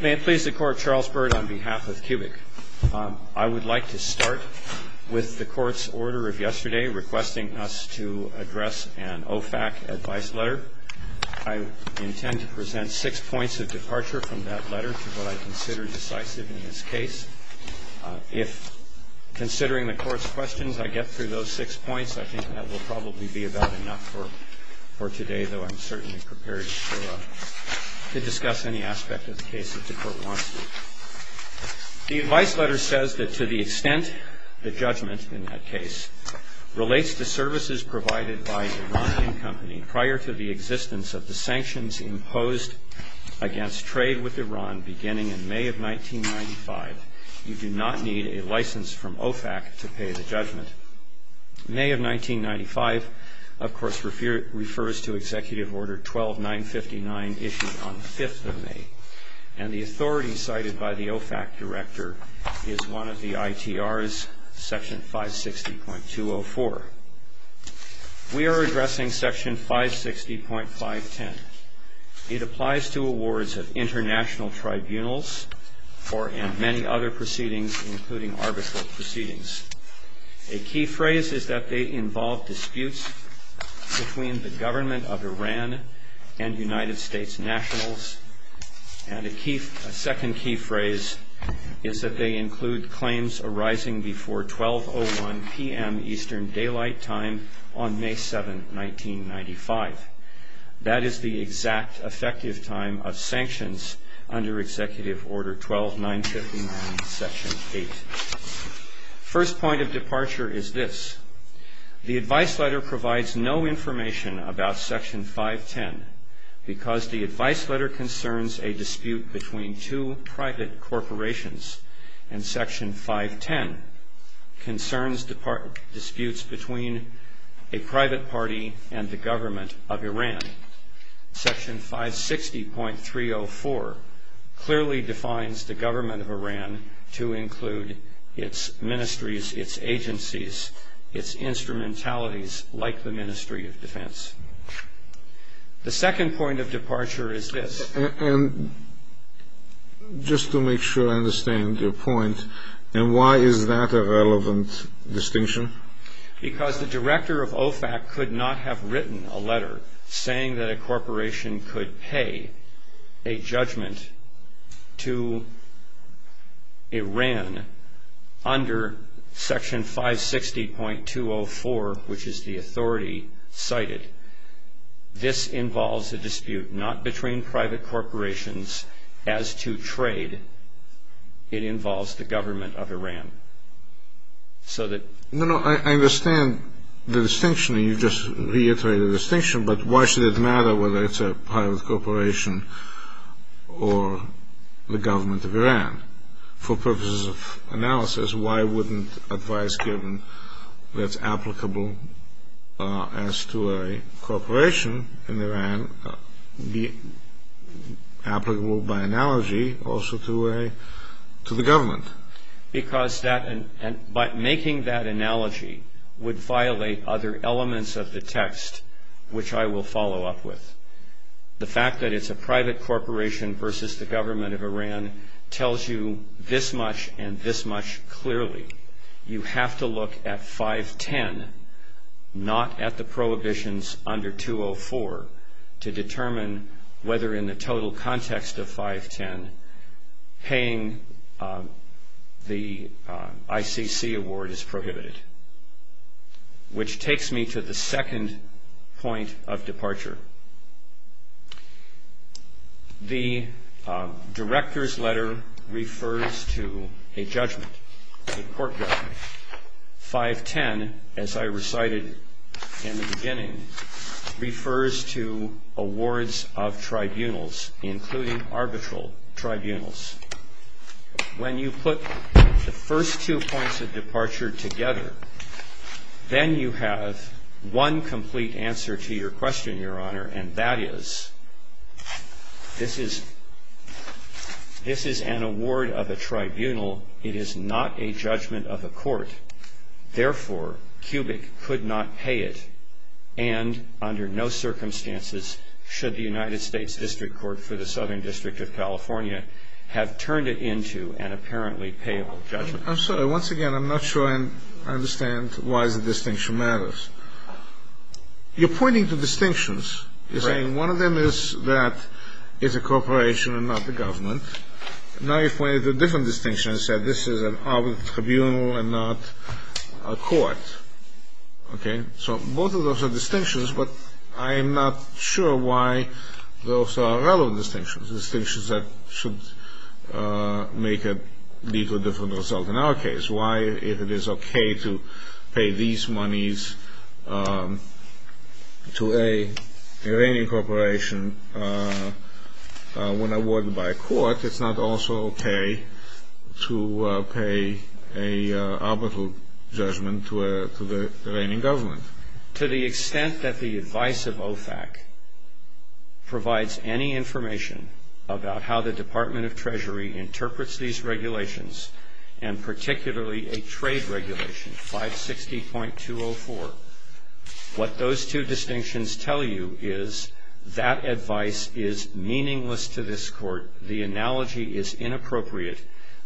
May it please the Court, Charles Byrd on behalf of Cubic. I would like to start with the Court's order of yesterday requesting us to address an OFAC advice letter. I intend to present six points of departure from that letter to what I consider decisive in this case. If, considering the Court's questions, I get through those six points, I think that will probably be about enough for today, though I'm certainly prepared to discuss any aspect of the case that the Court wants me to. The advice letter says that to the extent the judgment in that case relates to services provided by Iranian company prior to the existence of the sanctions imposed against trade with Iran beginning in May of 1995, you do not need a license from OFAC to pay the judgment. May of 1995, of course, refers to Executive Order 12959 issued on the 5th of May, and the authority cited by the OFAC Director is one of the ITRs, Section 560.204. We are addressing Section 560.510. It applies to awards of international tribunals and many other proceedings, including arbitral proceedings. A key phrase is that they involve disputes between the government of Iran and United States nationals, and a second key phrase is that they include claims arising before 12.01 p.m. Eastern Daylight Time on May 7, 1995. That is the exact effective time of sanctions under Executive Order 12959, Section 8. First point of departure is this. The advice letter provides no information about Section 510 because the advice letter concerns a dispute between two private corporations, and Section 510 concerns disputes between a private party and the government of Iran. Section 560.304 clearly defines the government of Iran to include its ministries, its agencies, its instrumentalities like the Ministry of Defense. The second point of departure is this. And just to make sure I understand your point, and why is that a relevant distinction? Because the director of OFAC could not have written a letter saying that a corporation could pay a judgment to Iran under Section 560.204, which is the authority cited. This involves a dispute not between private corporations as to trade. It involves the government of Iran. No, no, I understand the distinction. You just reiterated the distinction, but why should it matter whether it's a private corporation or the government of Iran? For purposes of analysis, why wouldn't advice given that's applicable as to a corporation in Iran be applicable by analogy also to the government? Because making that analogy would violate other elements of the text, which I will follow up with. The fact that it's a private corporation versus the government of Iran tells you this much and this much clearly. You have to look at 510, not at the prohibitions under 204, to determine whether in the total context of 510, paying the ICC award is prohibited. Which takes me to the second point of departure. The director's letter refers to a judgment, a court judgment. 510, as I recited in the beginning, refers to awards of tribunals, including arbitral tribunals. When you put the first two points of departure together, then you have one complete answer to your question, Your Honor, and that is this is an award of a tribunal. It is not a judgment of a court. Therefore, Cubic could not pay it, and under no circumstances should the United States District Court for the Southern District of California have turned it into an apparently payable judgment. I'm sorry, once again, I'm not sure I understand why the distinction matters. You're pointing to distinctions. You're saying one of them is that it's a corporation and not the government. Now you're pointing to different distinctions. You said this is an arbitral tribunal and not a court. Okay, so both of those are distinctions, but I'm not sure why those are relevant distinctions. Distinctions that should make a different result in our case. That is why it is okay to pay these monies to a Iranian corporation when awarded by a court. It's not also okay to pay an arbitral judgment to the Iranian government. To the extent that the advice of OFAC provides any information about how the Department of Treasury interprets these regulations, and particularly a trade regulation, 560.204, what those two distinctions tell you is that advice is meaningless to this court. is inappropriate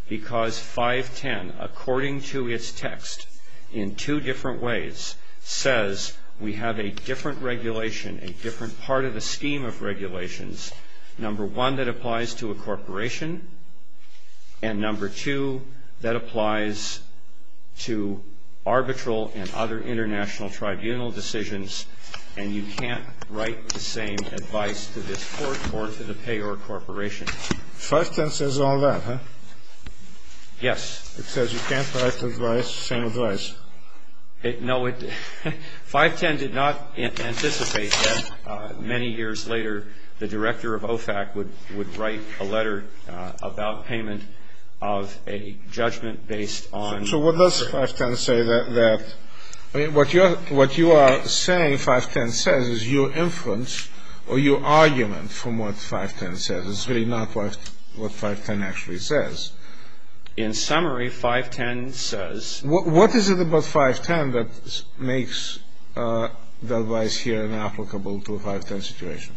because 510, according to its text, in two different ways, says we have a different regulation, a different part of the scheme of regulations. Number one, that applies to a corporation. And number two, that applies to arbitral and other international tribunal decisions. And you can't write the same advice to this court or to the payer corporation. 510 says all that, huh? Yes. It says you can't write the same advice. No, 510 did not anticipate that many years later the director of OFAC would write a letter about payment of a judgment based on. So what does 510 say that, I mean, what you are saying 510 says is your inference or your argument from what 510 says. It's really not what 510 actually says. In summary, 510 says. What is it about 510 that makes the advice here inapplicable to a 510 situation?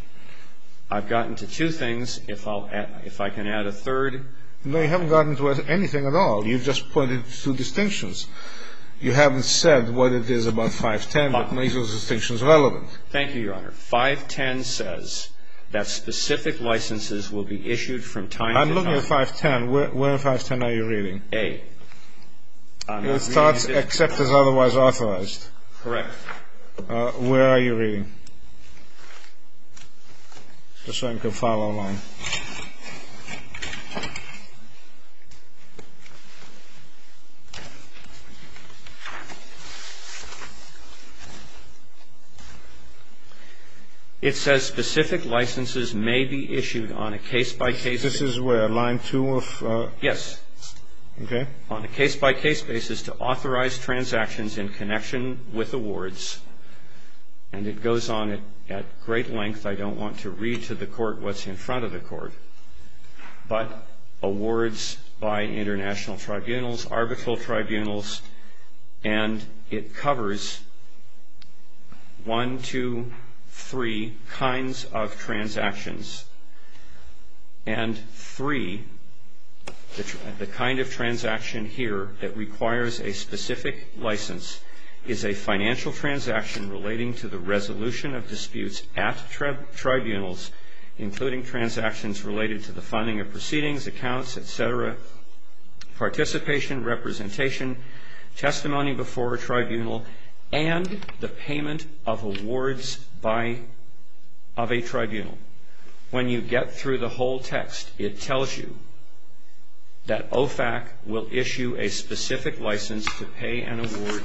I've gotten to two things. If I can add a third. No, you haven't gotten to anything at all. You've just pointed to two distinctions. You haven't said what it is about 510 that makes those distinctions relevant. Thank you, Your Honor. 510 says that specific licenses will be issued from time to time. I'm looking at 510. Where in 510 are you reading? A. It starts except as otherwise authorized. Correct. Where are you reading? Just so I can follow along. It says specific licenses may be issued on a case-by-case basis. This is where, line two of? Yes. Okay. On a case-by-case basis to authorize transactions in connection with awards. And it goes on at great length. I don't want to read to the court what's in front of the court, but awards by international tribunals, arbitral tribunals, and it covers one, two, three kinds of transactions. And three, the kind of transaction here that requires a specific license, is a financial transaction relating to the resolution of disputes at tribunals, including transactions related to the funding of proceedings, accounts, et cetera, participation, representation, testimony before a tribunal, and the payment of awards of a tribunal. When you get through the whole text, it tells you that OFAC will issue a specific license to pay an award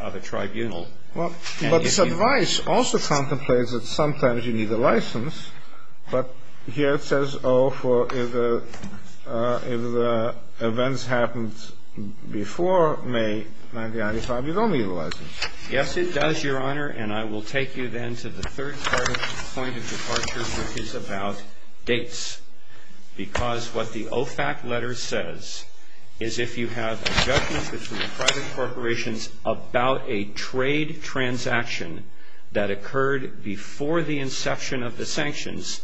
of a tribunal. But this advice also contemplates that sometimes you need a license, but here it says, oh, if the events happened before May 1995, you don't need a license. Yes, it does, Your Honor. And I will take you then to the third point of departure, which is about dates. Because what the OFAC letter says is if you have a judgment between private corporations about a trade transaction that occurred before the inception of the sanctions,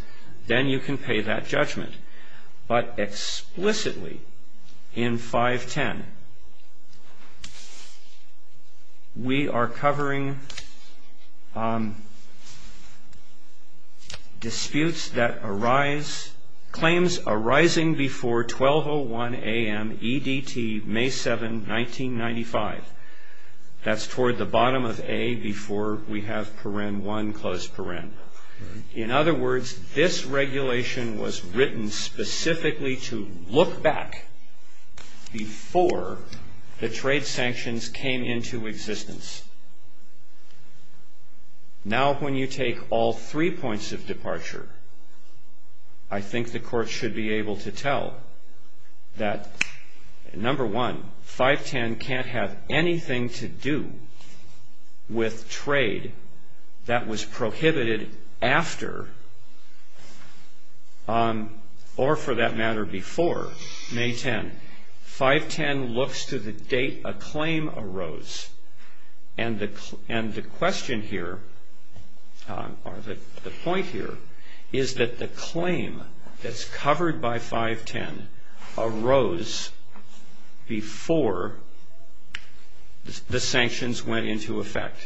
then you can pay that judgment. But explicitly in 510, we are covering disputes that arise, claims arising before 12.01 a.m. EDT, May 7, 1995. That's toward the bottom of A before we have paren 1, close paren. In other words, this regulation was written specifically to look back before the trade sanctions came into existence. Now, when you take all three points of departure, I think the court should be able to tell that, number one, 510 can't have anything to do with trade that was prohibited after, or for that matter, before May 10. 510 looks to the date a claim arose. And the question here, or the point here, is that the claim that's covered by 510 arose before the sanctions went into effect.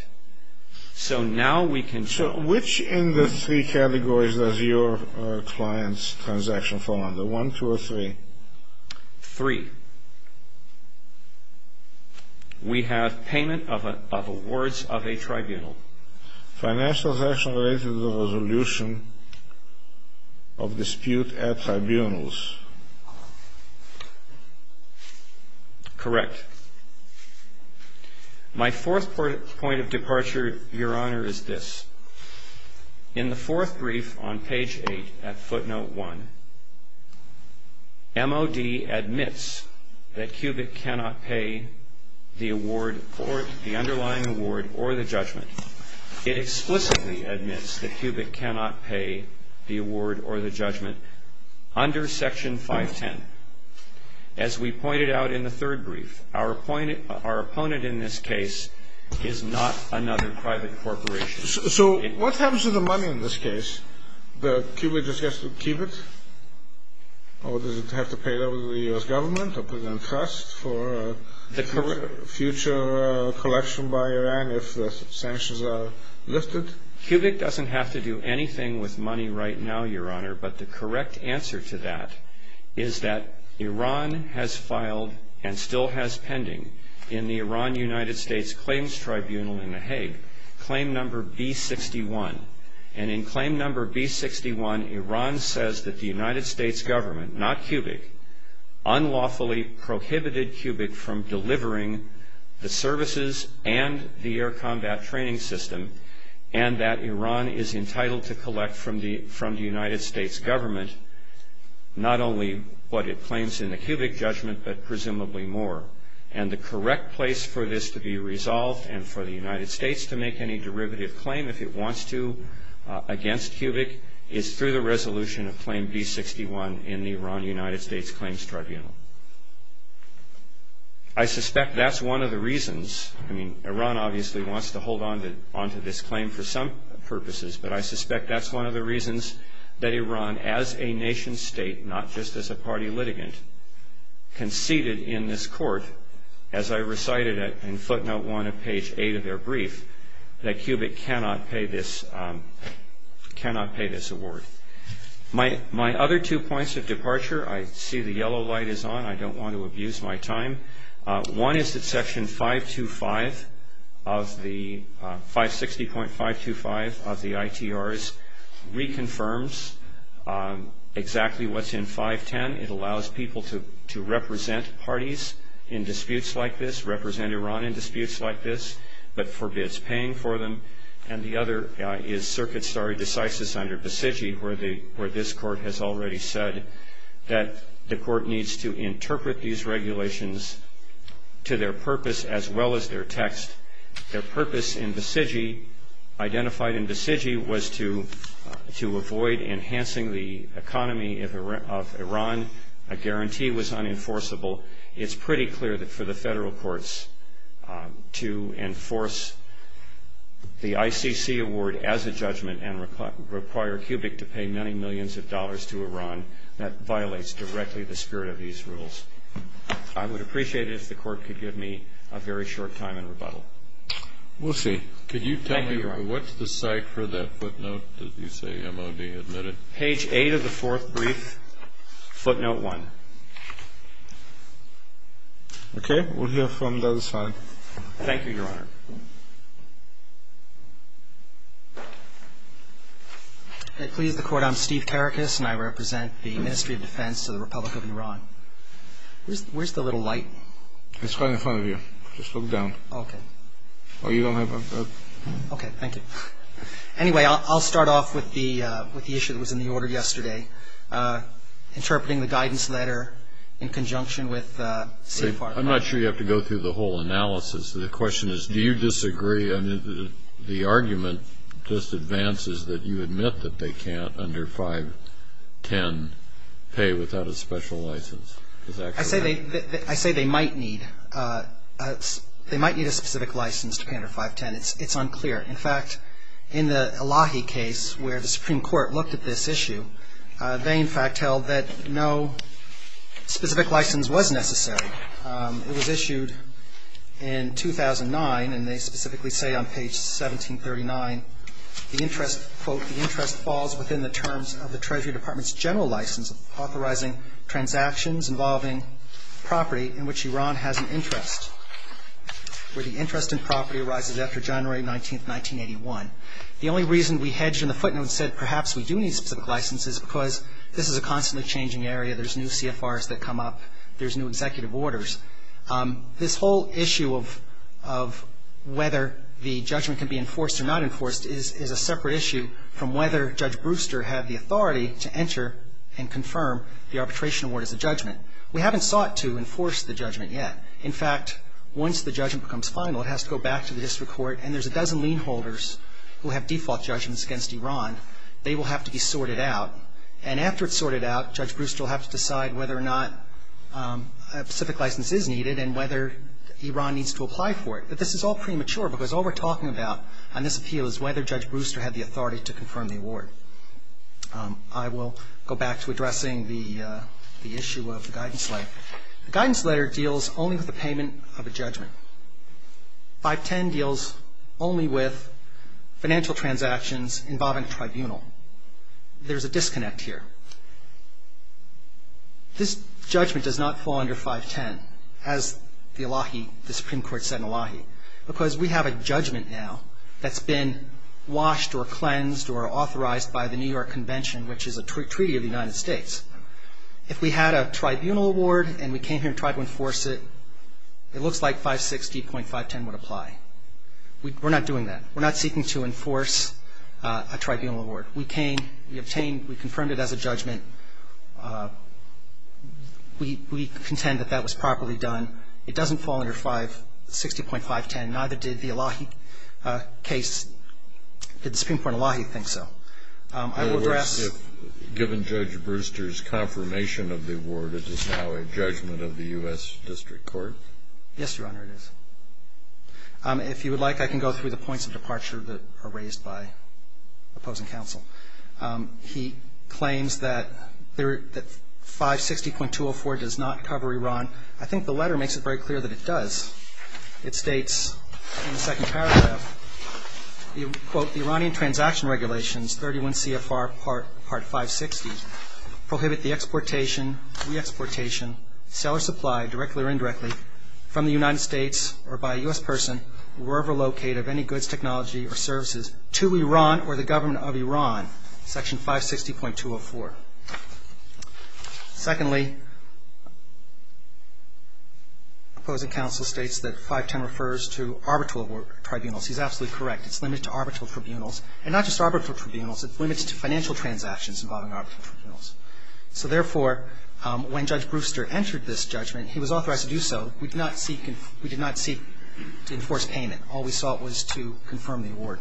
So now we can... So which in the three categories does your client's transaction fall under, 1, 2, or 3? 3. We have payment of awards of a tribunal. Financial transaction related to the resolution of dispute at tribunals. Correct. My fourth point of departure, Your Honor, is this. In the fourth brief on page 8 at footnote 1, MOD admits that Cubic cannot pay the award or the underlying award or the judgment. It explicitly admits that Cubic cannot pay the award or the judgment under section 510. As we pointed out in the third brief, our opponent in this case is not another private corporation. So what happens to the money in this case? Does Cubic just have to keep it? Or does it have to pay it over to the U.S. government, or put it in trust for future collection by Iran if the sanctions are lifted? Cubic doesn't have to do anything with money right now, Your Honor. But the correct answer to that is that Iran has filed, and still has pending in the Iran-United States Claims Tribunal in The Hague, Claim No. B61. And in Claim No. B61, Iran says that the United States government, not Cubic, unlawfully prohibited Cubic from delivering the services and the air combat training system, and that Iran is entitled to collect from the United States government not only what it claims in the Cubic judgment, but presumably more. And the correct place for this to be resolved, and for the United States to make any derivative claim if it wants to against Cubic, is through the resolution of Claim B61 in the Iran-United States Claims Tribunal. I suspect that's one of the reasons. I mean, Iran obviously wants to hold onto this claim for some purposes, but I suspect that's one of the reasons that Iran, as a nation-state, not just as a party litigant, conceded in this court, as I recited in footnote 1 of page 8 of their brief, that Cubic cannot pay this award. My other two points of departure, I see the yellow light is on, I don't want to abuse my time. One is that Section 560.525 of the ITRs reconfirms exactly what's in 510. It allows people to represent parties in disputes like this, represent Iran in disputes like this, but forbids paying for them. And the other is Circuit Stare Decisis under Besigi, where this court has already said that the court needs to interpret these regulations to their purpose as well as their text. Their purpose in Besigi, identified in Besigi, was to avoid enhancing the economy of Iran. A guarantee was unenforceable. It's pretty clear that for the federal courts to enforce the ICC award as a judgment and require Cubic to pay many millions of dollars to Iran, that violates directly the spirit of these rules. I would appreciate it if the court could give me a very short time in rebuttal. We'll see. Thank you, Your Honor. Could you tell me what's the site for that footnote that you say MOD admitted? Page 8 of the fourth brief, footnote 1. Okay. We'll hear from the other side. Thank you, Your Honor. Please, the court. I'm Steve Karakis, and I represent the Ministry of Defense of the Republic of Iran. Where's the little light? It's right in front of you. Just look down. Okay. Oh, you don't have it? Okay. Thank you. Anyway, I'll start off with the issue that was in the order yesterday, interpreting the guidance letter in conjunction with a safe part of that. I'm not sure you have to go through the whole analysis. The question is, do you disagree? I mean, the argument just advances that you admit that they can't, under 510, pay without a special license. Is that correct? I say they might need a specific license to pay under 510. It's unclear. In fact, in the Elahi case, where the Supreme Court looked at this issue, they, in fact, held that no specific license was necessary. It was issued in 2009, and they specifically say on page 1739, the interest, quote, the interest falls within the terms of the Treasury Department's general license authorizing transactions involving property in which Iran has an interest, where the interest in property arises after January 19, 1981. The only reason we hedged in the footnote and said perhaps we do need specific license is because this is a constantly changing area. There's new CFRs that come up. There's new executive orders. This whole issue of whether the judgment can be enforced or not enforced is a separate issue from whether Judge Brewster had the authority to enter and confirm the arbitration award as a judgment. We haven't sought to enforce the judgment yet. In fact, once the judgment becomes final, it has to go back to the district court, and there's a dozen lien holders who have default judgments against Iran. They will have to be sorted out, and after it's sorted out, Judge Brewster will have to decide whether or not a specific license is needed and whether Iran needs to apply for it. But this is all premature because all we're talking about on this appeal is whether Judge Brewster had the authority to confirm the award. I will go back to addressing the issue of the guidance letter. The guidance letter deals only with the payment of a judgment. 510 deals only with financial transactions involving a tribunal. There's a disconnect here. This judgment does not fall under 510, as the Supreme Court said in Elahi, because we have a judgment now that's been washed or cleansed or authorized by the New York Convention, which is a treaty of the United States. If we had a tribunal award and we came here and tried to enforce it, it looks like 560.510 would apply. We're not doing that. We're not seeking to enforce a tribunal award. We came, we obtained, we confirmed it as a judgment. We contend that that was properly done. It doesn't fall under 560.510. Neither did the Elahi case. Did the Supreme Court of Elahi think so? I will address- Given Judge Brewster's confirmation of the award, it is now a judgment of the U.S. District Court? Yes, Your Honor, it is. If you would like, I can go through the points of departure that are raised by opposing counsel. He claims that 560.204 does not cover Iran. I think the letter makes it very clear that it does. It states in the second paragraph, quote, The Iranian Transaction Regulations 31 CFR Part 560 prohibit the exportation, re-exportation, sale or supply directly or indirectly from the United States or by a U.S. person wherever located of any goods, technology, or services to Iran or the government of Iran, section 560.204. Secondly, opposing counsel states that 510 refers to arbitral tribunals. He's absolutely correct. It's limited to arbitral tribunals. And not just arbitral tribunals, it's limited to financial transactions involving arbitral tribunals. So therefore, when Judge Brewster entered this judgment, he was authorized to do so. We did not seek to enforce payment. All we sought was to confirm the award.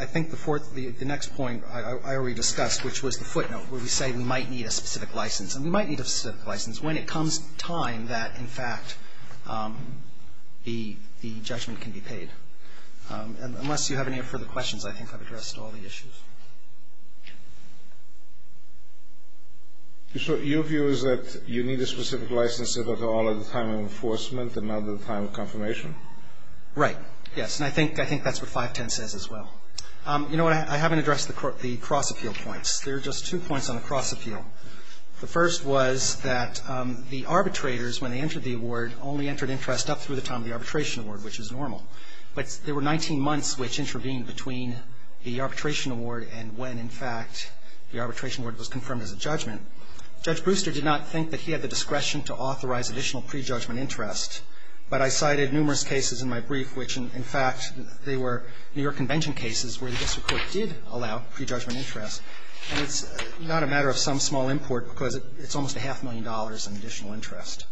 I think the next point I already discussed, which was the footnote where we say we might need a specific license. And we might need a specific license when it comes time that, in fact, the judgment can be paid. And unless you have any further questions, I think I've addressed all the issues. So your view is that you need a specific license at all at the time of enforcement and not at the time of confirmation? Right. Yes. And I think that's what 510 says as well. You know what? I haven't addressed the cross-appeal points. There are just two points on the cross-appeal. The first was that the arbitrators, when they entered the award, only entered interest up through the time of the arbitration award, which is normal. But there were 19 months which intervened between the arbitration award and when, in fact, the arbitration award was confirmed as a judgment. Judge Brewster did not think that he had the discretion to authorize additional pre-judgment interest. But I cited numerous cases in my brief which, in fact, they were New York Convention cases where the district court did allow pre-judgment interest. And it's not a matter of some small import because it's almost a half million dollars in additional interest.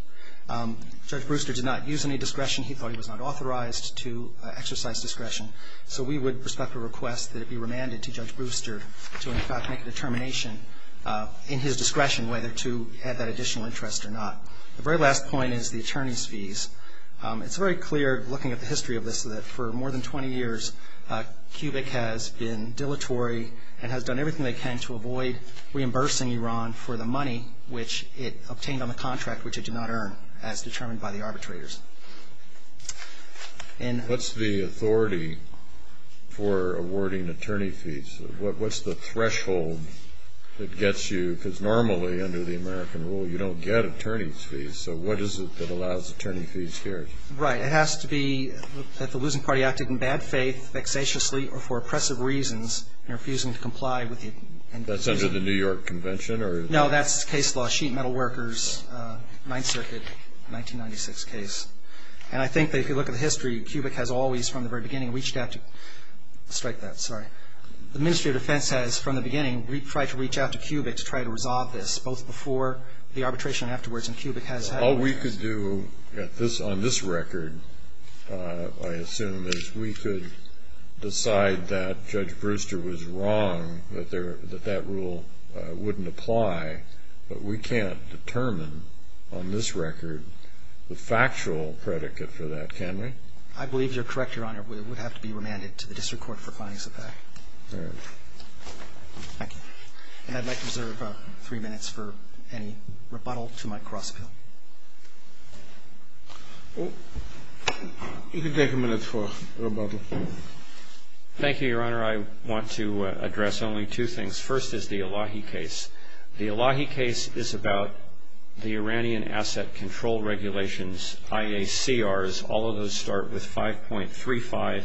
Judge Brewster did not use any discretion. He thought he was not authorized to exercise discretion. So we would prospect a request that it be remanded to Judge Brewster to, in fact, make a determination in his discretion whether to add that additional interest or not. The very last point is the attorney's fees. It's very clear, looking at the history of this, that for more than 20 years, CUBIC has been dilatory and has done everything they can to avoid reimbursing Iran for the money which it obtained on the contract which it did not earn, as determined by the arbitrators. And what's the authority for awarding attorney fees? What's the threshold that gets you? Because normally, under the American rule, you don't get attorney's fees. So what is it that allows attorney fees here? Right. It has to be that the losing party acted in bad faith, vexatiously or for oppressive reasons and refusing to comply with it. That's under the New York Convention? No, that's case law, Sheet Metal Workers, Ninth Circuit, 1996 case. And I think that if you look at the history, CUBIC has always, from the very beginning, reached out to strike that. Sorry. The Ministry of Defense has, from the beginning, tried to reach out to CUBIC to try to resolve this, both before the arbitration and afterwards. And CUBIC has had a response. All we could do on this record, I assume, is we could decide that Judge Brewster was wrong, that that rule wouldn't apply. But we can't determine on this record the factual predicate for that, can we? I believe you're correct, Your Honor. We would have to be remanded to the district court for findings of that. All right. Thank you. And I'd like to reserve three minutes for any rebuttal to my cross-appeal. You can take a minute for rebuttal. Thank you, Your Honor. I want to address only two things. First is the Elahi case. The Elahi case is about the Iranian Asset Control Regulations, IACRs. All of those start with 5.35,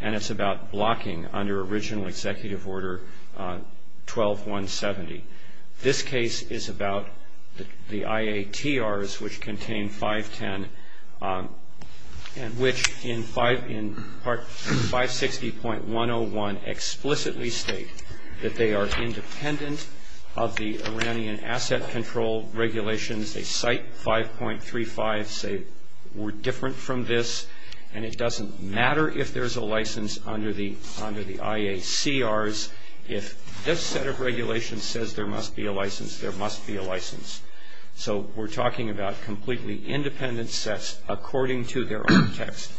and it's about blocking under original Executive Order 12-170. This case is about the IATRs, which contain 5.10, and which in Part 560.101 explicitly state that they are independent of the Iranian Asset Control Regulations. They cite 5.35, say we're different from this, and it doesn't matter if there's a license under the IACRs. If this set of regulations says there must be a license, there must be a license. So we're talking about completely independent sets according to their own text.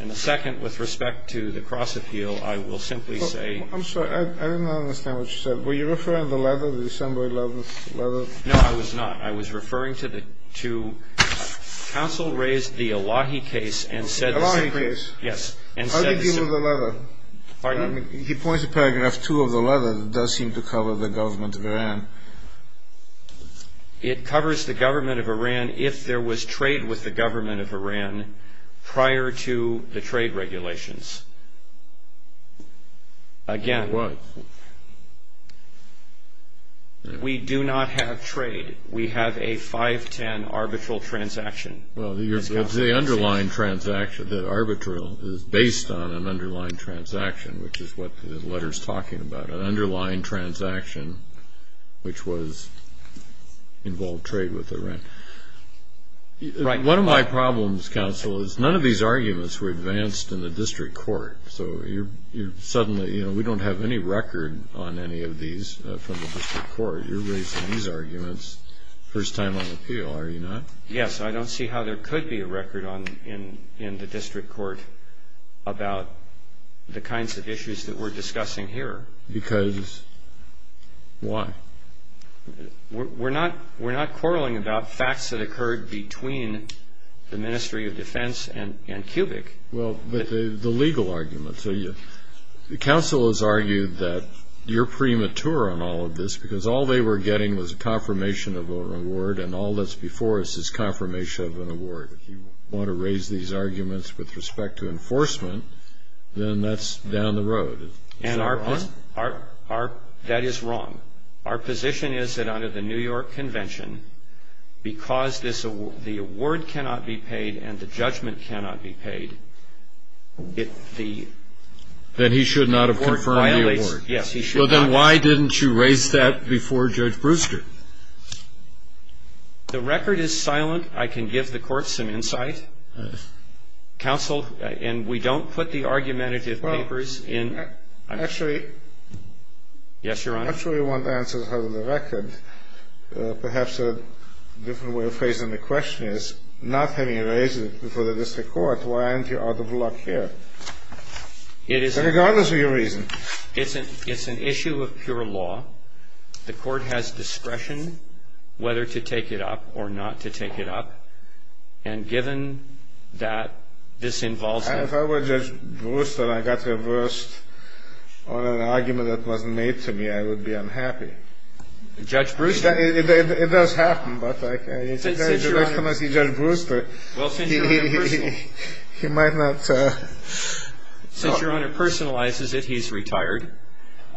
And the second, with respect to the cross-appeal, I will simply say ---- I'm sorry. I did not understand what you said. Were you referring to the letter, the assembly letter? No, I was not. Counsel raised the Elahi case and said ---- Elahi case? Yes. How do you deal with the letter? He points to paragraph 2 of the letter that does seem to cover the government of Iran. It covers the government of Iran if there was trade with the government of Iran prior to the trade regulations. Again, we do not have trade. We have a 5.10 arbitral transaction. Well, it's the underlying transaction. The arbitral is based on an underlying transaction, which is what the letter is talking about, an underlying transaction which was involved trade with Iran. One of my problems, Counsel, is none of these arguments were advanced in the district court. So suddenly we don't have any record on any of these from the district court. You're raising these arguments first time on appeal, are you not? Yes. I don't see how there could be a record in the district court about the kinds of issues that we're discussing here. Because why? We're not quarreling about facts that occurred between the Ministry of Defense and Cubic. Well, but the legal arguments. Counsel has argued that you're premature on all of this because all they were getting was a confirmation of an award, and all that's before us is confirmation of an award. If you want to raise these arguments with respect to enforcement, then that's down the road. Is that wrong? That is wrong. Our position is that under the New York Convention, because the award cannot be paid and the judgment cannot be paid, the award violates. Then he should not have confirmed the award. Yes, he should not. Well, then why didn't you raise that before Judge Brewster? The record is silent. I can give the Court some insight. Counsel, and we don't put the argumentative papers in. Well, actually. Yes, Your Honor. I'm not sure we want answers out of the record. Perhaps a different way of phrasing the question is, not having raised it before the district court, why aren't you out of luck here? Regardless of your reason. It's an issue of pure law. The Court has discretion whether to take it up or not to take it up. And given that this involves a If I were Judge Brewster and I got reversed on an argument that wasn't made to me, I would be unhappy. Judge Brewster It does happen, but I can't. Well, since Your Honor personalizes it, he's retired.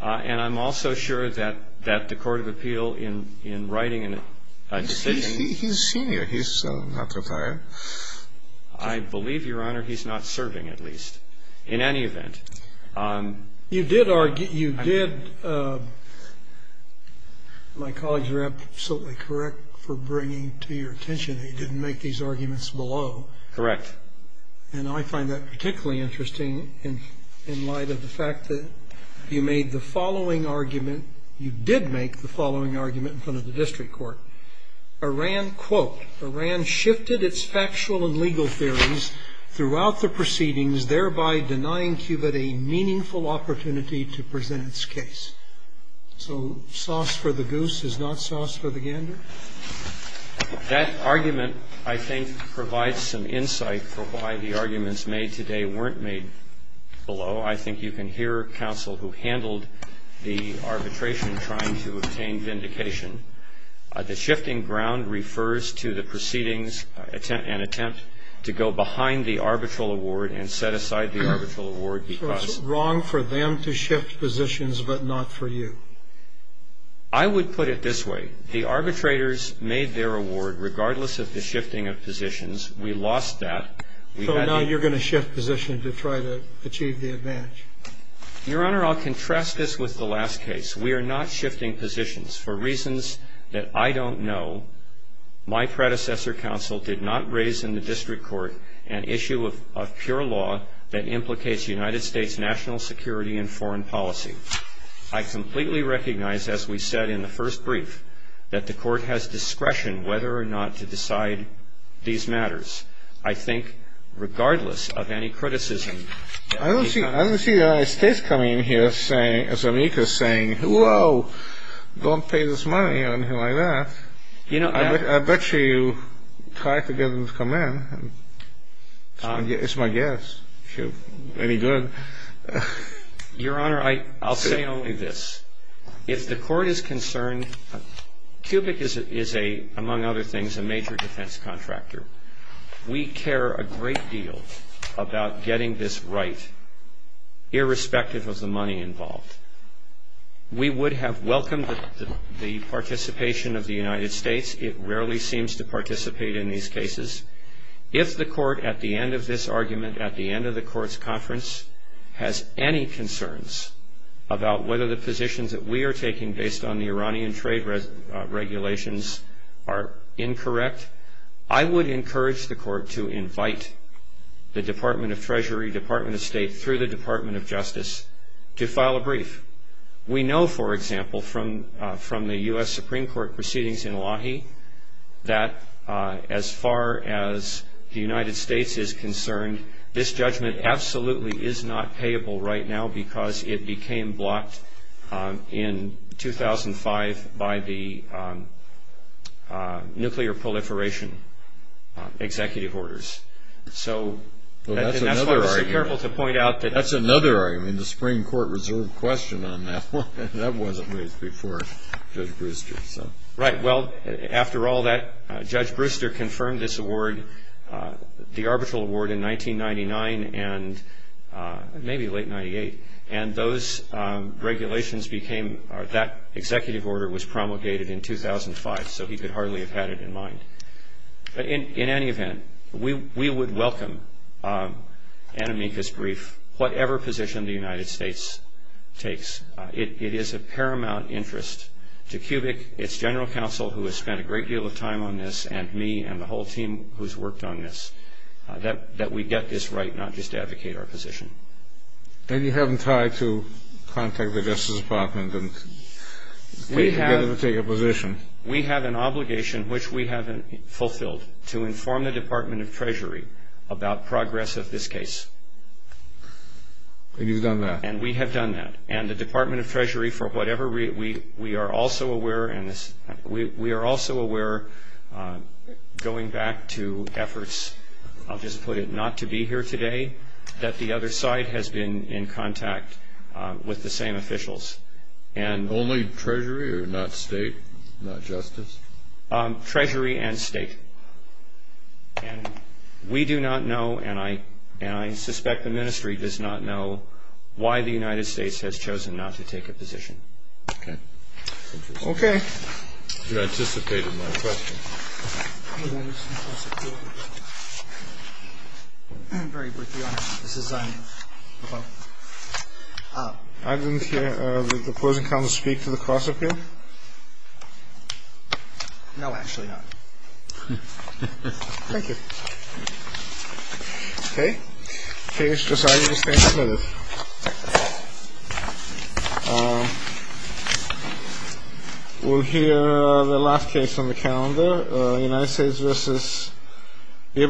And I'm also sure that the Court of Appeal, in writing a decision He's senior. He's not retired. I believe, Your Honor, he's not serving, at least, in any event. You did argue, you did My colleagues are absolutely correct for bringing to your attention that you didn't make these arguments below. Correct. And I find that particularly interesting in light of the fact that you made the following argument You did make the following argument in front of the district court. Iran, quote, Iran shifted its factual and legal theories throughout the proceedings, thereby denying Cuba a meaningful opportunity to present its case. So sauce for the goose is not sauce for the gander? That argument, I think, provides some insight for why the arguments made today weren't made below. I think you can hear counsel who handled the arbitration trying to obtain vindication. The shifting ground refers to the proceedings and attempt to go behind the arbitral award and set aside the arbitral award because So it's wrong for them to shift positions but not for you? I would put it this way. The arbitrators made their award regardless of the shifting of positions. We lost that. So now you're going to shift positions to try to achieve the advantage? Your Honor, I'll contrast this with the last case. We are not shifting positions for reasons that I don't know. My predecessor counsel did not raise in the district court an issue of pure law that implicates United States national security and foreign policy. I completely recognize, as we said in the first brief, that the court has discretion whether or not to decide these matters. I think regardless of any criticism. I don't see the United States coming in here as amicus saying, whoa, don't pay this money or anything like that. I bet you try to get them to come in. It's my guess, if you're any good. Your Honor, I'll say only this. If the court is concerned, Kubick is, among other things, a major defense contractor. We care a great deal about getting this right irrespective of the money involved. We would have welcomed the participation of the United States. It rarely seems to participate in these cases. If the court at the end of this argument, at the end of the court's conference, has any concerns about whether the positions that we are taking based on the Iranian trade regulations are incorrect, I would encourage the court to invite the Department of Treasury, Department of State, through the Department of Justice, to file a brief. We know, for example, from the U.S. Supreme Court proceedings in Wahi, that as far as the United States is concerned, this judgment absolutely is not payable right now because it became blocked in 2005 by the nuclear proliferation executive orders. Well, that's another argument. That's another argument. The Supreme Court reserved question on that one. That wasn't raised before Judge Brewster. Right. Well, after all that, Judge Brewster confirmed this award, the arbitral award, in 1999 and maybe late 1998, and that executive order was promulgated in 2005, so he could hardly have had it in mind. In any event, we would welcome an amicus brief, whatever position the United States takes. It is of paramount interest to CUBIC, its general counsel, who has spent a great deal of time on this, and me and the whole team who's worked on this, that we get this right, not just advocate our position. And you haven't tried to contact the Justice Department and get them to take a position. We have an obligation, which we haven't fulfilled, to inform the Department of Treasury about progress of this case. And you've done that. And we have done that. And the Department of Treasury, for whatever reason, we are also aware going back to efforts, I'll just put it, not to be here today, that the other side has been in contact with the same officials. Only Treasury or not State, not Justice? Treasury and State. And we do not know, and I suspect the ministry does not know, why the United States has chosen not to take a position. Okay. Interesting. Okay. You anticipated my question. I didn't hear the opposing counsel speak to the cross-appeal. No, actually not. Thank you. Okay. Case decided to stay committed. We'll hear the last case on the calendar. United States v. Ivanos.